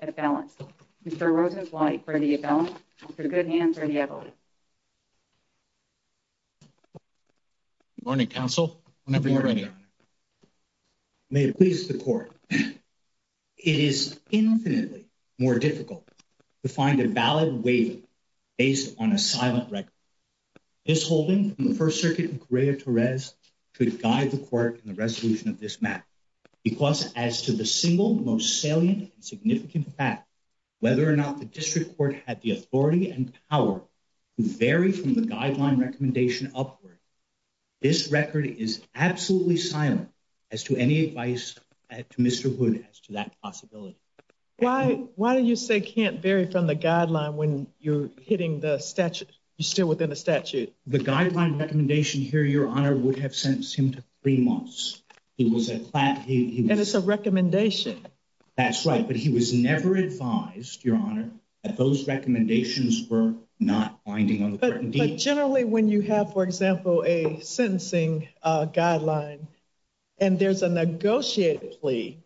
at balance. Mr. Rosenzweig for the abatement, for the good hand, for the evidence. Good morning, counsel. Good morning, Your Honor. May it please the court, it is infinitely more difficult to find a valid waiving based on a silent record. This holding from the could guide the court in the resolution of this map because as to the single most salient significant fact, whether or not the district court had the authority and power to vary from the guideline recommendation upward, this record is absolutely silent as to any advice to Mr. Hood as to that possibility. Why do you say can't vary from the guideline when you're hitting the statute, you're still within the statute? The guideline recommendation here, Your Honor, would have sentenced him to three months. And it's a recommendation. That's right, but he was never advised, Your Honor, that those recommendations were not binding. Generally, when you have, for example, a sentencing guideline and there's a negotiated plea,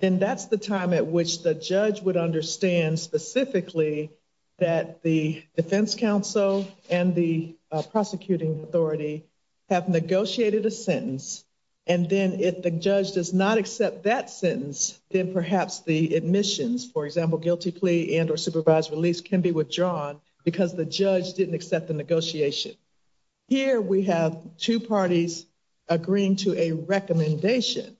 then that's the time at which the judge would understand specifically that the defense counsel and the prosecuting authority have negotiated a sentence and then if the judge does not accept that sentence, then perhaps the admissions, for example, guilty plea and or supervised release can be withdrawn because the judge didn't accept the negotiation. Here we have two parties agreeing to a recommendation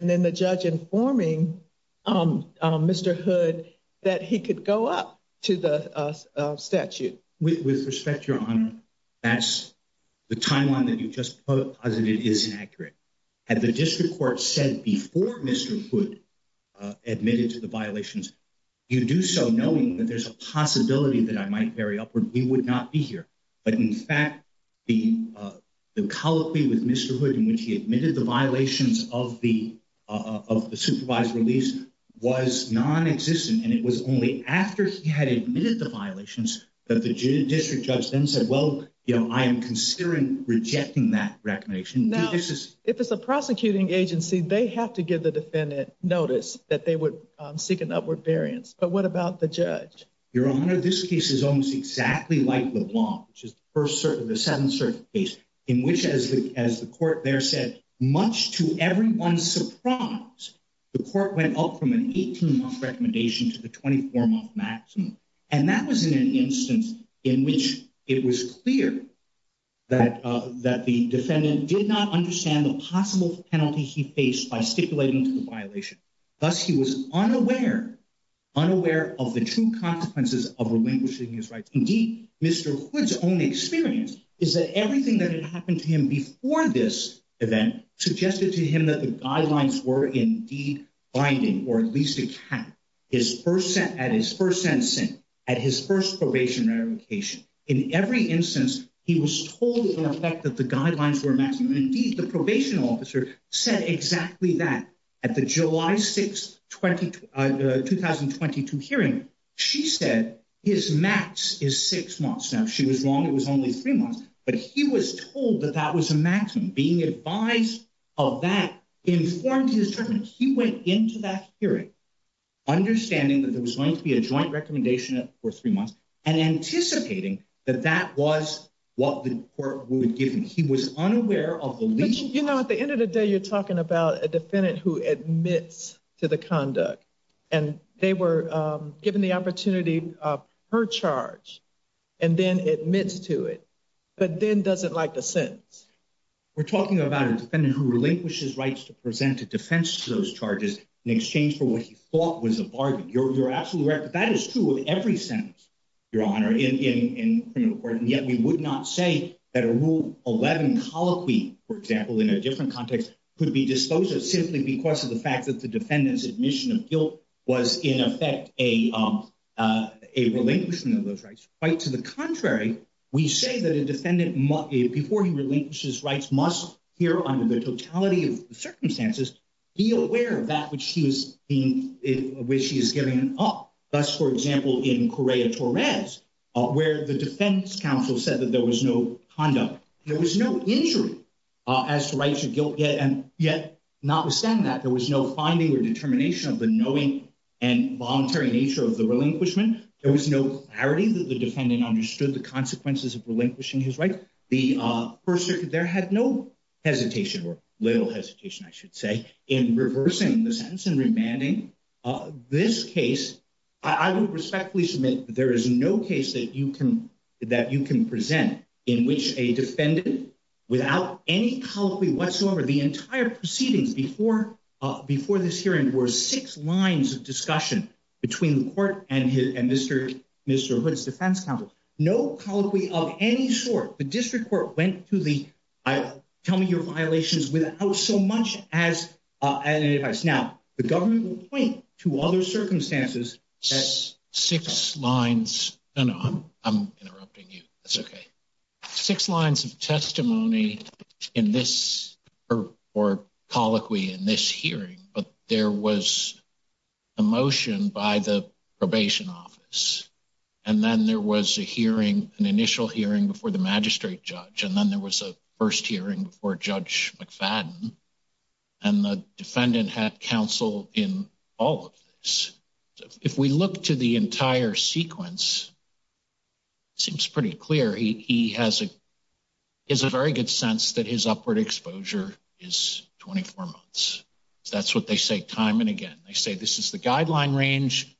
and then the judge informing Mr. Hood that he could go up to the statute. With respect, Your Honor, that's the timeline that you just posited is inaccurate. Had the district court said before Mr. Hood admitted to the violations, you do so knowing that there's a possibility that I might vary upward, we would not be here. But in fact, the colloquy with Mr. Hood in which he admitted the violations of the supervised release was non-existent and it was only after he had admitted the violations that the district judge then said, well, you know, I am considering rejecting that recommendation. Now, if it's a prosecuting agency, they have to give the defendant notice that they would seek an upward variance. But what about the judge? Your Honor, this case is almost exactly like LeBlanc, which is the first certain, the seventh certain case in which, as the court there said, much to everyone's surprise, the court went up from an 18-month recommendation to the 24-month maximum. And that was in an instance in which it was clear that the defendant did not understand the possible penalty he faced by stipulating to the violation. Thus, he was unaware, unaware of the true consequences of relinquishing his rights. Indeed, Mr. Hood's own experience is that everything that had happened to him before this event suggested to him that the guidelines were indeed binding, or at least a cap, at his first sentencing, at his first probationary location. In every instance, he was told in effect that the guidelines were maximum. Indeed, the probation officer said exactly that at the July 6, 2022 hearing. She said his max is six months. Now, she was wrong, it was only three months, but he was told that that was a maximum. Being advised of that, informed to his judgment, he went into that hearing understanding that there was going to be a joint recommendation for three months and anticipating that that was what the court would give him. He was unaware of the least... You know, at the end of the day, you're talking about a defendant who admits to the conduct and they were given the opportunity of her charge and then admits to it, but then doesn't like the sentence. We're talking about a defendant who relinquishes rights to present a defense to those charges in exchange for what he thought was a bargain. You're absolutely right, but that is true of every sentence, Your Honor, in criminal court, and yet we would not say that a Rule 11 colloquy, for example, in a different context, could be disposed of simply because of the fact that the a relinquishment of those rights. Quite to the contrary, we say that a defendant, before he relinquishes rights, must hear under the totality of circumstances, be aware of that which she is giving up. Thus, for example, in Correa-Torres, where the defense counsel said that there was no conduct, there was no injury as to rights of guilt, and yet notwithstanding that, there was no finding or determination of the knowing and voluntary nature of the relinquishment, there was no clarity that the defendant understood the consequences of relinquishing his rights. The First Circuit there had no hesitation, or little hesitation, I should say, in reversing the sentence and remanding this case. I would respectfully submit there is no case that you can present in which a defendant, without any colloquy whatsoever, the entire proceedings before this hearing were six lines of discussion between the court and Mr. Hood's defense counsel. No colloquy of any sort, the district court went to the, tell me your violations, without so much as an advice. Now, the government will point to other circumstances. Six lines, no, no, I'm interrupting you, that's okay. Six lines of testimony in this, or colloquy in this hearing, but there was a motion by the probation office, and then there was a hearing, an initial hearing before the magistrate judge, and then there was a first hearing before Judge McFadden, and the defendant had in all of this. If we look to the entire sequence, it seems pretty clear he has a, is a very good sense that his upward exposure is 24 months. That's what they say time and again. They say this is the guideline range,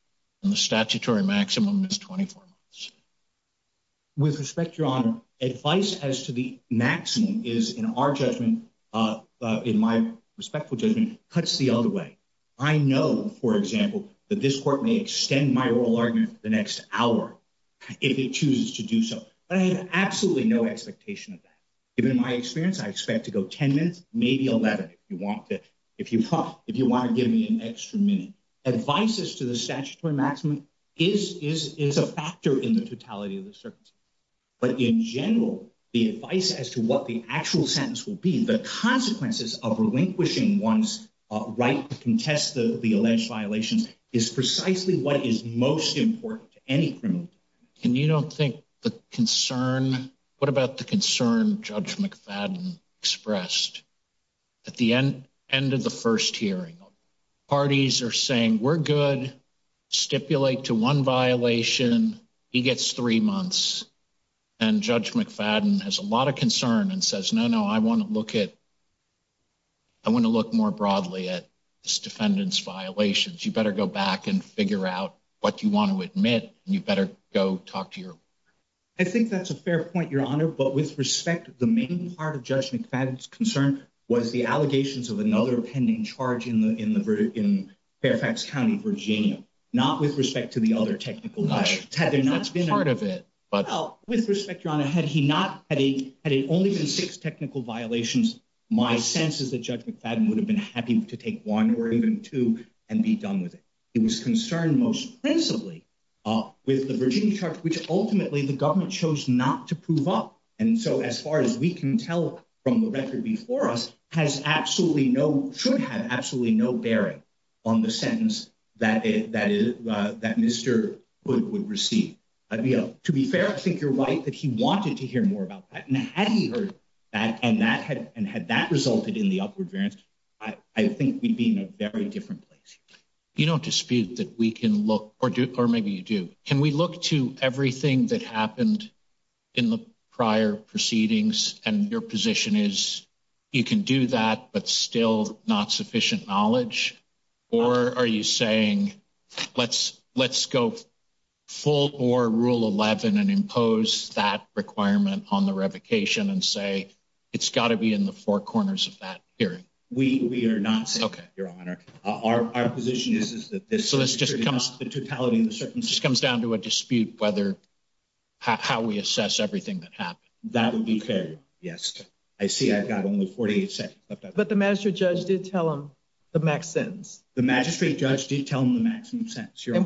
and the statutory maximum is 24 months. With respect, Your Honor, advice as to the maximum is, in our judgment, in my respectful judgment, cuts the other way. I know, for example, that this court may extend my oral argument the next hour if it chooses to do so, but I have absolutely no expectation of that. Even in my experience, I expect to go 10 minutes, maybe 11 if you want to, if you want, if you want to give me an extra minute. Advice as to the statutory maximum is, is, is a factor in the totality of the circumstance, but in general, the advice as to what the actual sentence will be, the consequences of relinquishing one's right to contest the alleged violations, is precisely what is most important to any criminal. And you don't think the concern, what about the concern Judge McFadden expressed at the end, end of the first hearing? Parties are saying, we're good, stipulate to one violation, he gets three months, and Judge McFadden has a lot of concern and says, no, no, I want to look at, I want to look more broadly at this defendant's violations. You better go back and figure out what you want to admit, and you better go talk to your lawyer. I think that's a fair point, Your Honor, but with respect, the main part of Judge McFadden's concern was the allegations of another pending charge in the, in the, in Fairfax County, Virginia, not with respect to the other technical violations. Had there not been... That's part of it, but... Well, with respect, Your Honor, had he not, had it only been six technical violations, my sense is that Judge McFadden would have been happy to take one or even two and be done with it. He was concerned most principally with the Virginia charge, which ultimately the government chose not to prove up, and so as far as we can tell from the record before us, has absolutely no, should have absolutely no bearing on the sentence that it, that it, that Mr. Hood would receive. To be fair, I think you're right that he wanted to hear more about that, and had he heard that, and that had, and had that resulted in the upward variance, I, I think we'd be in a very different place. You don't dispute that we can look, or do, or maybe you do. Can we look to everything that happened in the prior proceedings, and your position is you can do that, but still not sufficient knowledge, or are you saying, let's, let's go full or rule 11, and impose that requirement on the revocation, and say it's got to be in the four corners of that hearing? We, we are not saying that, Your Honor. Our, our position is, is that this, so this just comes, the totality of the circumstances, just comes down to a dispute whether, how we assess everything that happened. That would be fair, yes. I see I've got only 48 seconds left. But the magistrate judge did tell him the max sentence. And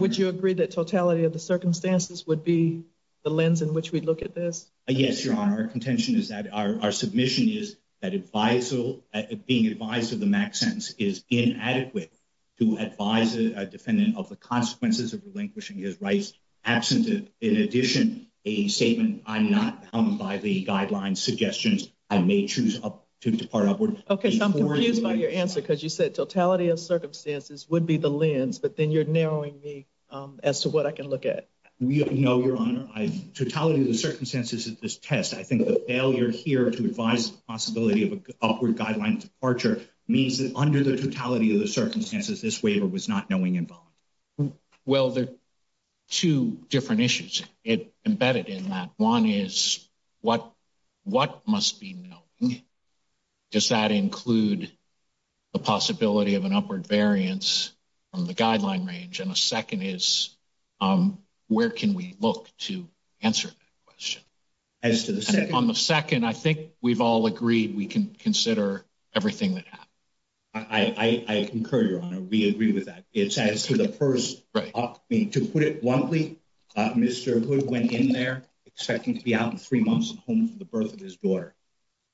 would you agree that totality of the circumstances would be the lens in which we look at this? Yes, Your Honor. Our contention is that our, our submission is that advisal, being advised of the max sentence is inadequate to advise a defendant of the consequences of relinquishing his rights absent of, in addition, a statement, I'm not humbled by the guidelines suggestions, I may choose to depart upward. Okay, so I'm confused by your answer, because you said totality of circumstances would be the lens, but then you're narrowing me as to what I can look at. No, Your Honor, I, totality of the circumstances of this test, I think the failure here to advise the possibility of an upward guideline departure means that under the totality of the circumstances, this waiver was not knowing involvement. Well, there are two different issues embedded in that. One is what, what must be known? Does that include the possibility of an upward variance from the guideline range? And a second is, um, where can we look to answer that question? As to the second, on the second, I think we've all agreed we can consider everything that happened. I, I, I concur, Your Honor. We agree with that. It's as to the person, to put it bluntly, Mr. Hood went in there expecting to be out in three months and home for the birth of his daughter.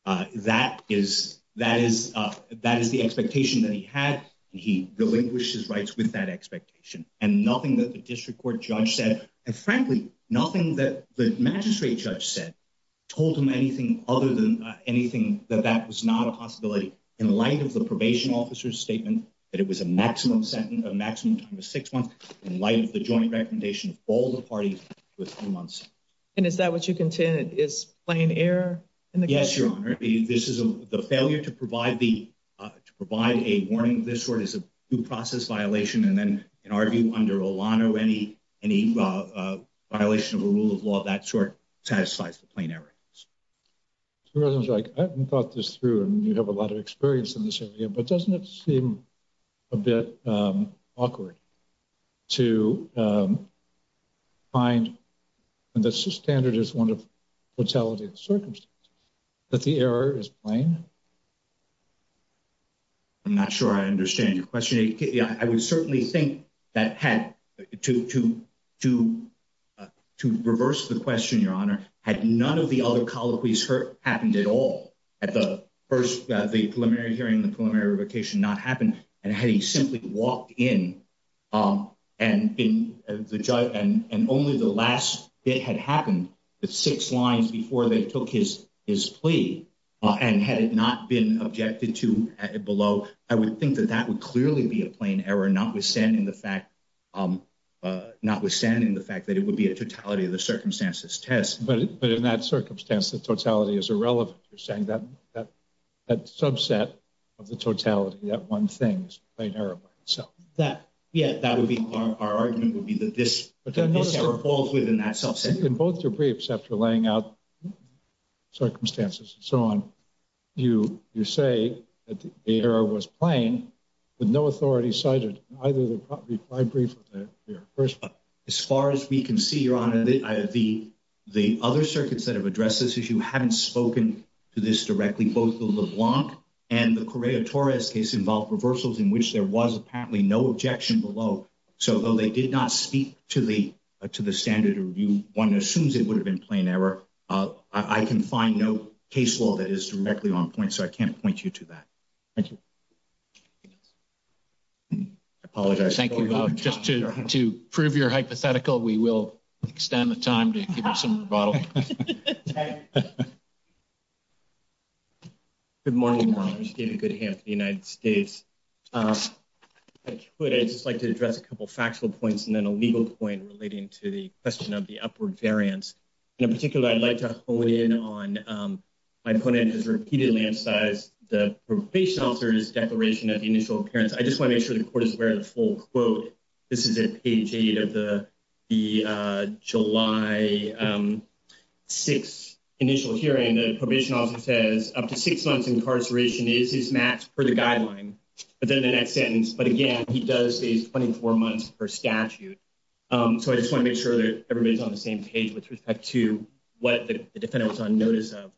Uh, that is, that is, uh, that is the expectation that he had, and he relinquished his rights with that expectation. And nothing that the district court judge said, and frankly, nothing that the magistrate judge said, told him anything other than anything that that was not a possibility in light of the probation officer's statement, that it was a maximum sentence, a maximum time of six months in light of the joint recommendation of all the parties within three months. And is that what you contend is plain error in the case? Yes, Your Honor. This is a, the failure to provide the, uh, to provide a warning of this sort is a due process violation. And then, in our view, under Olano, any, any, uh, uh, violation of a rule of law of that sort satisfies the plain error. I haven't thought this through, and you have a lot of experience in this area, but doesn't it seem a bit, um, awkward to, um, find the standard is one of fatality of circumstances, that the error is plain? I'm not sure I understand your question. I would certainly think that had to, to, to, uh, to reverse the question, Your Honor, had none of the other colloquies hurt, happened at all, at the first, uh, the preliminary hearing, the preliminary revocation not happened, and had he simply walked in, um, and been the judge, and, and only the last bit had happened, the six lines before they took his, his plea, uh, and had it not been objected to below, I would think that that would clearly be a plain error, notwithstanding the fact, um, uh, notwithstanding the fact that it would be a totality of the circumstances test. But, but in that circumstance, the totality is irrelevant. You're saying that, that, that subset of the totality, that one thing is a error by itself. That, yeah, that would be our, our argument would be that this, this error falls within that subset. In both your briefs after laying out circumstances and so on, you, you say that the error was plain, but no authority cited in either of the five briefs. As far as we can see, Your Honor, the, the other circuits that have addressed this issue haven't spoken to this directly, both the LeBlanc and the Correa-Torres case involved reversals in which there was apparently no objection below. So though they did not speak to the, to the standard review, one assumes it would have been plain error. Uh, I can find no case law that is directly on point, so I can't point you to that. Thank you. I apologize. Thank you, Your Honor. Just to, to prove your hypothetical, we will extend the time to give you some rebuttal. Good morning, Your Honor. David Goodham for the United States. If I could, I'd just like to address a couple of factual points and then a legal point relating to the question of the upward variance. And in particular, I'd like to hone in on, um, my opponent has repeatedly emphasized the probation officer's declaration of the initial appearance. I just want to make sure the court is aware of the full quote. This is at page 8 of the, the, uh, July, um, 6 initial hearing. The probation officer says up to 6 months incarceration is his max per the guideline, but then the next sentence, but again, he does say he's 24 months per statute. Um, so I just want to make sure that everybody's on the same page with respect to what the defendant was on notice of.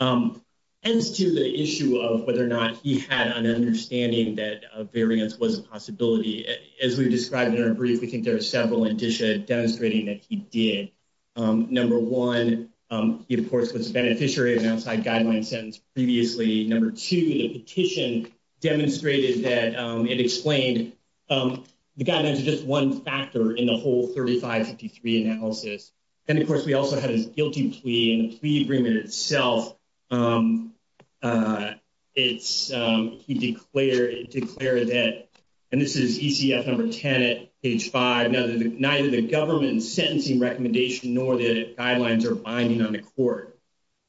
Um, as to the issue of whether or not he had an understanding that a variance was a possibility, as we've described in our brief, we think there are several indicia demonstrating that he did. Um, number one, um, he, of course, was a beneficiary of an outside guideline sentence previously. Number two, the petition demonstrated that, um, it explained, um, the guidelines are just one factor in the whole 3553 analysis. And of course, we also had his guilty plea and the plea agreement itself. Um, uh, it's, um, he declared, declared that, and this is ECF number 10 at age five, neither the, neither the government sentencing recommendation, nor the guidelines are binding on the court.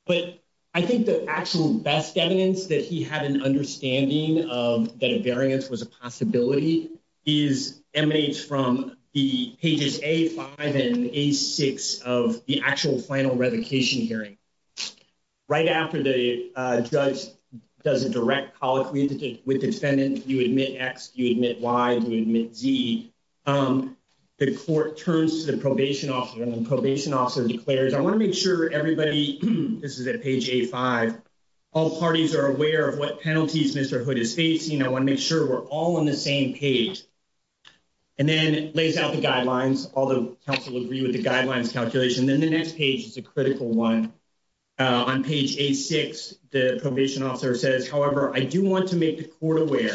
But I think the actual best evidence that he had an understanding of that a variance was a possibility is emanates from the pages, a five and a six of the actual final revocation hearing right after the, uh, judge does a direct colleague with defendant. You admit X, you admit Y, you admit Z. Um, the court turns to the probation officer and probation officer declares. I want to make sure everybody, this is at page eight, five, all parties are aware of what penalties Mr. Hood is facing. I want to make sure we're all on the same page and then lays out the guidelines. All the council would agree with the guidelines calculation. Then the next page is a critical one. Uh, on page eight, six, the probation officer says, however, I do want to make the court aware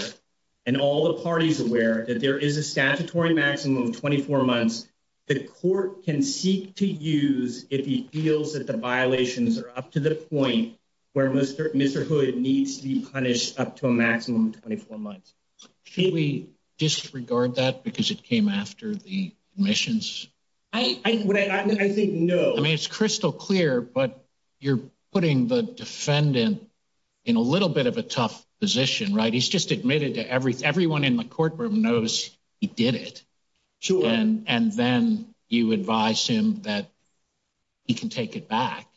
and all the parties aware that there is a statutory maximum of 24 months. The court can seek to use if he feels that the violations are up to the point where Mr. Hood needs to be punished up to a maximum of 24 months. Should we disregard that because it came after the admissions? I think no. I mean, it's crystal clear, but you're putting the defendant in a little bit of a tough position, right? He's just admitted to everything. Everyone in the courtroom knows he did it. Sure. And, and then you advise him that he can take it back.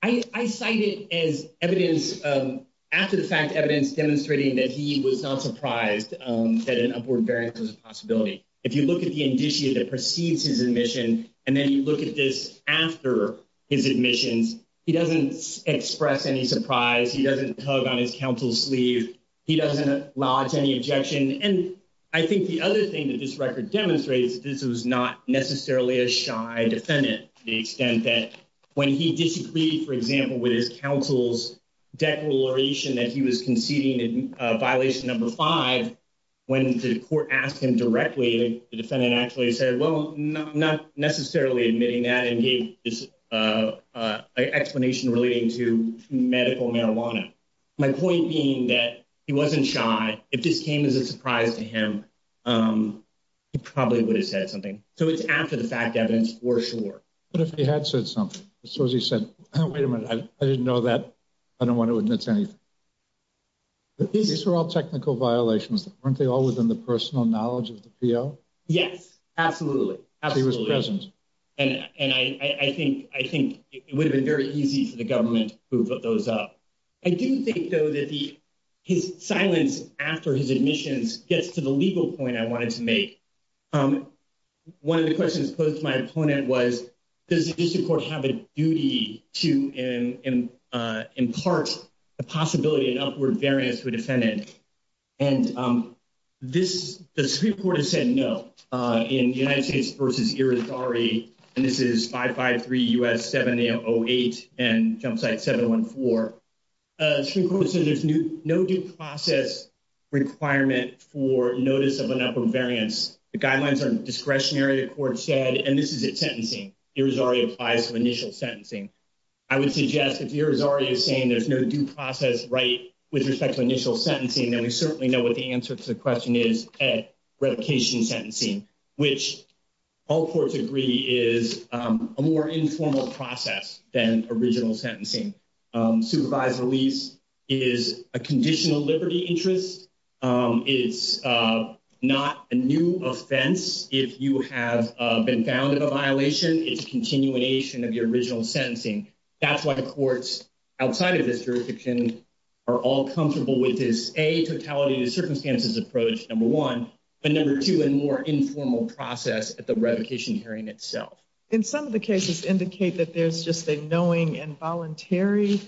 I cited as evidence, um, after the fact evidence demonstrating that he was not surprised, um, that an upward variance was a possibility. If you look at the indicia that precedes his admission, and then you look at this after his admissions, he doesn't express any surprise. He doesn't tug on his counsel's sleeve. He doesn't lodge any objection. And I think the other thing that this record demonstrates, this was not necessarily a shy defendant. The extent that when he disagreed, for example, with his counsel's declaration that he was conceding a violation number five, when the court asked him directly, the defendant actually said, well, not necessarily admitting that and gave this, uh, uh, explanation relating to medical marijuana. My point being that he wasn't shy. If this came as a surprise to him, um, he probably would have said something. So it's after the fact evidence for sure. But if he had said something, so as he said, oh, wait a minute, I didn't know that. I don't want to admit to anything, but these are all technical violations. Aren't they all within the personal knowledge of the PO? Yes, absolutely. Absolutely. And, and I, I think, I think it would have been very easy for the government to move those up. I do think though that the, his silence after his admissions gets to the legal point I wanted to make. Um, one of the questions posed to my opponent was, does the district court have a duty to, in, uh, impart the possibility of upward variance to a defendant? And, um, this, the Supreme Court has said no, uh, in the United States versus Irizarry, and this is 553 U.S. 7808 and jump site 714. Uh, Supreme Court has said there's no due process requirement for notice of an upper variance. The guidelines are discretionary. The court said, and this is it sentencing. It was already applies to initial sentencing. I would suggest if you're already saying there's no due process, right? With respect to initial sentencing. And we certainly know what the answer to the question is at revocation sentencing, which all courts agree is, um, a more informal process than original sentencing. Um, supervised release is a conditional interest. Um, it's, uh, not a new offense. If you have, uh, been found in a violation, it's a continuation of your original sentencing. That's why the courts outside of this jurisdiction are all comfortable with is a totality to circumstances approach number one, but number two, and more informal process at the revocation hearing itself. In some of the cases indicate that there's just a knowing and voluntary,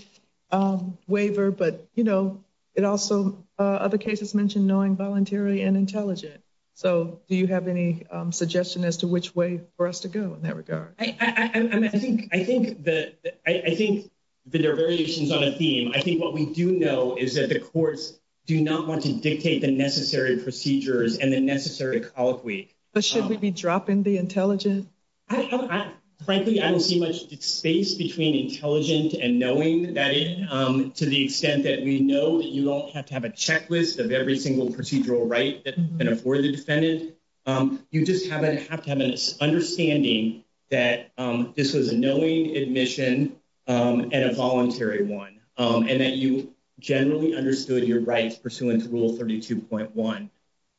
um, waiver, but, you know, it also, uh, other cases mentioned knowing voluntary and intelligent. So do you have any, um, suggestion as to which way for us to go in that regard? I, I think, I think that, I think that there are variations on a theme. I think what we do know is that the courts do not want to dictate the necessary procedures and the necessary call it week. But should we be dropping the intelligent? I frankly, I don't see much space between intelligent and knowing that, um, to the extent that we know that you don't have to have a checklist of every single procedural, right? That can afford the defendant. Um, you just haven't have to have an understanding that, um, this was a knowing admission, um, and a voluntary one, um, and that you generally understood your rights pursuant to rule 32.1.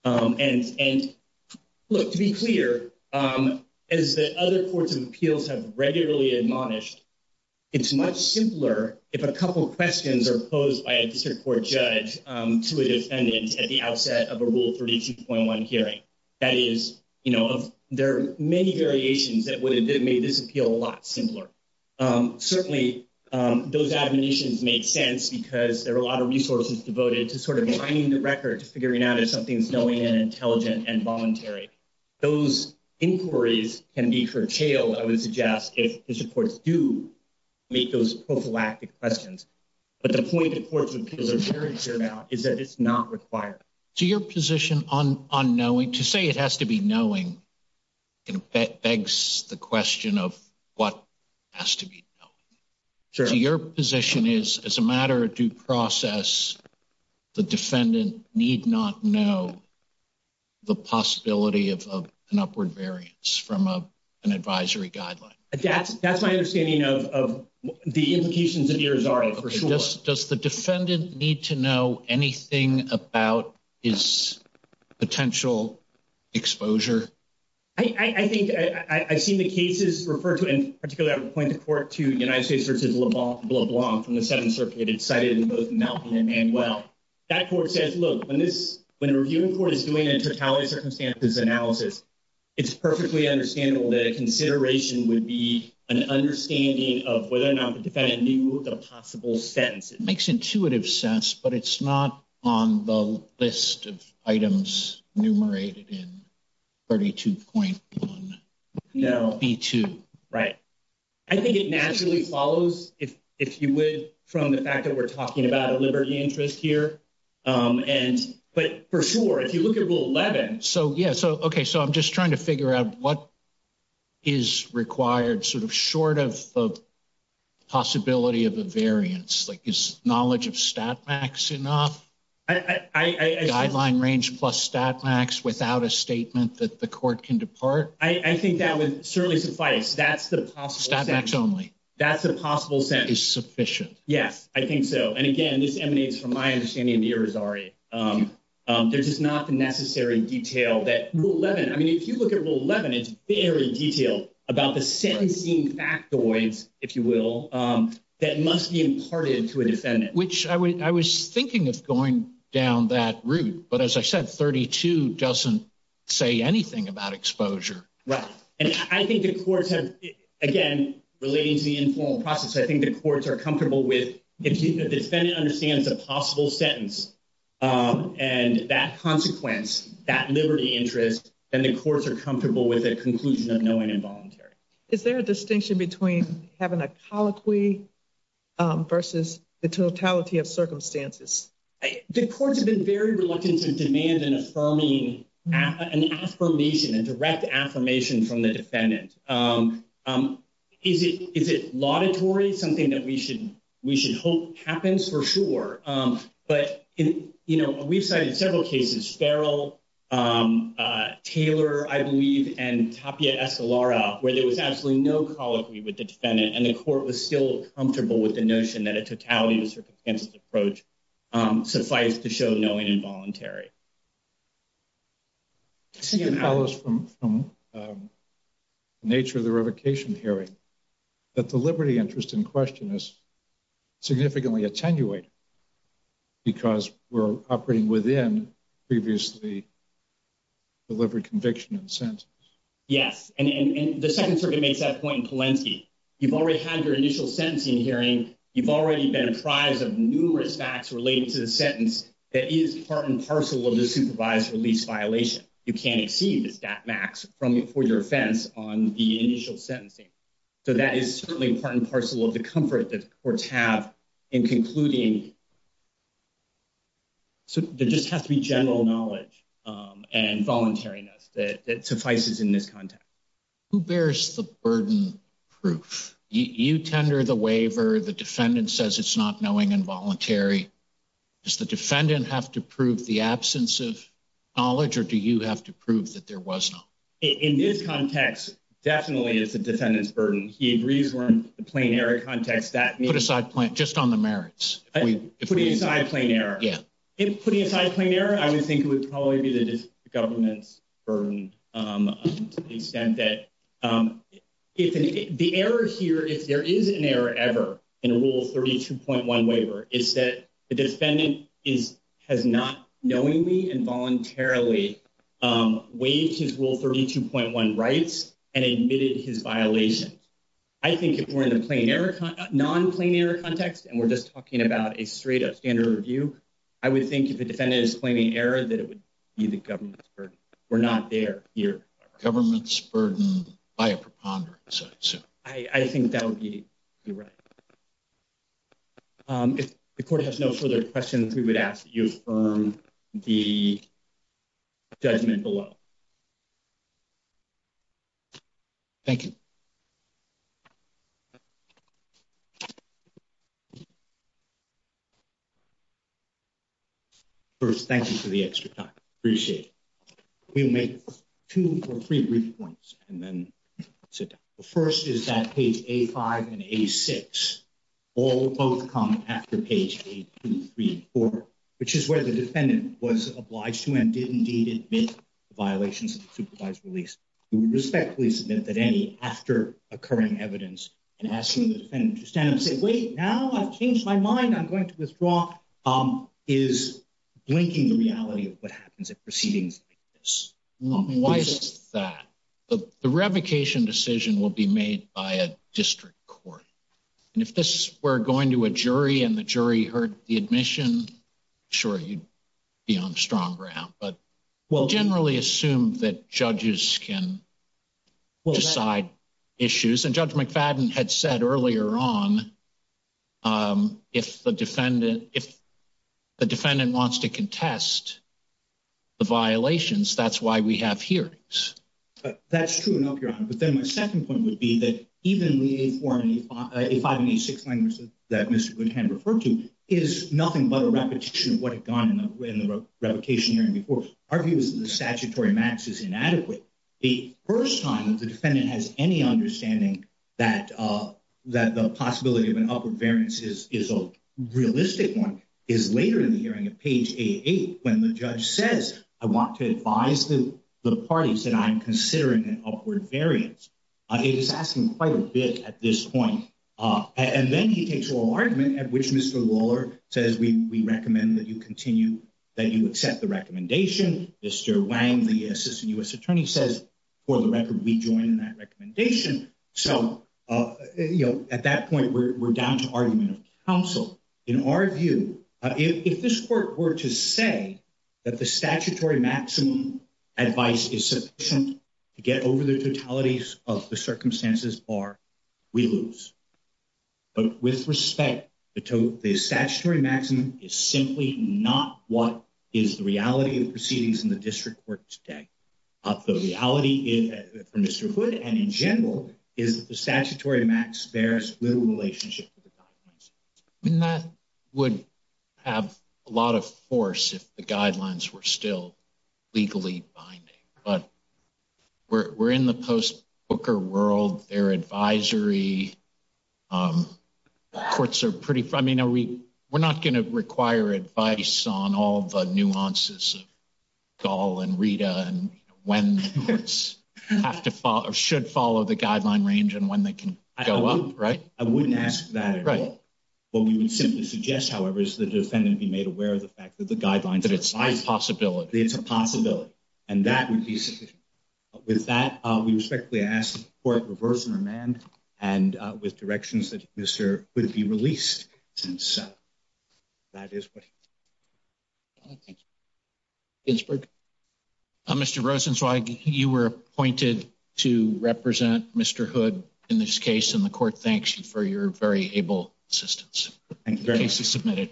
Um, and, and look to be clear, um, as the other courts of appeals have regularly admonished, it's much simpler if a couple of questions are posed by a district court judge, um, to a defendant at the outset of a rule 32.1 hearing. That is, you know, there are many variations that would have made this appeal a lot simpler. Um, certainly, um, those admonitions make sense because there are a lot of resources devoted to sort of finding the record to figuring out if something's knowing and intelligent and voluntary. Those inquiries can be curtailed, I would suggest, if district courts do make those prophylactic questions. But the point that courts of appeals are very clear about is that it's not required. So your position on, on knowing, to say it has to be knowing, it begs the question of what has to be knowing. So your position is, as a matter of due process, the defendant need not know the possibility of an upward variance from a, an advisory guideline. That's, that's my understanding of, of the implications of Irizarry for sure. Does, does the defendant need to know anything about his potential exposure? I, I think, I, I've seen the cases referred to, and particularly I would point the court to United States versus LeBlanc from the totality circumstances analysis. It's perfectly understandable that a consideration would be an understanding of whether or not the defendant knew the possible sentence. It makes intuitive sense, but it's not on the list of items enumerated in 32.1. No. B2. Right. I think it naturally follows if, if you would, from the fact that we're talking about liberty interest here. And, but for sure, if you look at rule 11. So, yeah. So, okay. So I'm just trying to figure out what is required sort of short of, of possibility of a variance. Like is knowledge of stat max enough? I, I, I, I. Guideline range plus stat max without a statement that the court can depart. I, I think that would certainly suffice. That's the possible. Stat max only. That's the possible sentence. Is sufficient. Yes, I think so. And again, this emanates from my understanding of the Ari. There's just not the necessary detail that rule 11. I mean, if you look at rule 11, it's very detailed about the sentencing factoids, if you will, that must be imparted to a defendant. Which I was thinking of going down that route. But as I said, 32 doesn't say anything about exposure. Right. And I think the courts have, again, relating to the informal process. I think the courts are comfortable with if the defendant understands a possible sentence. And that consequence, that liberty interest, and the courts are comfortable with a conclusion of knowing involuntary. Is there a distinction between having a colloquy versus the totality of circumstances? The courts have been very reluctant to demand an affirming, an affirmation and direct affirmation from the defendant. Is it is it laudatory? Something that we should we should hope happens for sure. But, you know, we've cited several cases, Farrell, Taylor, I believe, and Tapia Escalera, where there was absolutely no colloquy with the defendant. And the court was still comfortable with the notion that a totality of circumstances approach suffice to show knowing involuntary. I think it follows from the nature of the revocation hearing, that the liberty interest in question is significantly attenuated because we're operating within previously delivered conviction and sentence. Yes. And the Second Circuit makes that point in Polensky. You've already had your initial sentencing hearing. You've already been apprised of numerous facts related to the sentence that is part and parcel of the supervised release violation. You can't exceed the stat max for your offense on the initial sentencing. So that is certainly part and parcel of the comfort that courts have in concluding. So there just has to be general knowledge and voluntariness that suffices in this context. Who bears the burden proof? You tender the waiver. The defendant says it's not knowing involuntary. Does the defendant have to prove the absence of knowledge or do you have to prove that there was not? In this context, definitely it's the defendant's burden. He agrees we're in the plain error context. Put aside plain, just on the merits. Putting aside plain error. Yeah. Putting aside plain error, I would think it would probably be the government's burden to the extent that... The error here, if there is an error ever in a Rule 32.1 waiver, is that the defendant has not knowingly and voluntarily waived his Rule 32.1 rights and admitted his violations. I think if we're in the non-plain error context and we're just talking about a straight up standard review, I would think if the defendant is claiming error, that it would be the government's burden. We're not there here. Government's burden by a preponderance, I assume. I think that would be right. If the court has no further questions, we would ask that you affirm the judgment below. Thank you. First, thank you for the extra time. Appreciate it. We'll make two or three brief points and then sit down. First is that page A5 and A6, all both come after page A2, 3, and 4, which is where the defendant was obliged to and did indeed admit the violations of the supervised release. We would respectfully submit that any after occurring evidence and ask for the defendant to stand up and say, wait, now I've changed my mind, I'm going to withdraw, is blinking the reality of what happens at proceedings like this. Why is that? The revocation decision will be made by a district court. And if this were going to a jury and the jury heard the admission, sure, you'd be on strong ground. But we generally assume that judges can decide issues. And Judge McFadden had said earlier on, if the defendant wants to contest the violations, that's why we have hearings. That's true and up your honor. But then my second point would be that even the A5 and A6 language that Mr. Goodhand referred to is nothing but a repetition of what had gone in the revocation hearing before. Our view is that the statutory max is inadequate. The first time that the defendant has any understanding that the possibility of an upward variance is a realistic one is later in the hearing at page A8, when the judge says, I want to advise the parties that I'm considering an upward variance. It is asking quite a bit at this point. And then he takes oral argument at which Mr. Lawler says, we recommend that you continue, that you accept the recommendation. Mr. Wang, the Assistant U.S. Attorney says, for the record, we join in that recommendation. In our view, if this court were to say that the statutory maximum advice is sufficient to get over the totalities of the circumstances bar, we lose. But with respect, the statutory maximum is simply not what is the reality of the proceedings in the district court today. The reality for Mr. Hood and in general is that the statutory max bears little relationship with the documents. I mean, that would have a lot of force if the guidelines were still legally binding, but we're in the post-Booker world. Their advisory courts are pretty, I mean, we're not going to require advice on all the nuances of Gall and Rita and when courts have to follow or should follow the guideline range and when they can go up, right? I wouldn't ask that at all. What we would simply suggest, however, is the defendant be made aware of the fact that the guidelines are fine. That it's a possibility. It's a possibility. And that would be sufficient. With that, we respectfully ask that the court reverse and remand and with directions that Mr. Hood be released. And so, that is what I think. Ginsburg? Mr. Rosenzweig, you were appointed to represent Mr. Hood in this case and the court thanks you for your very able assistance. Thank you very much. The case is submitted.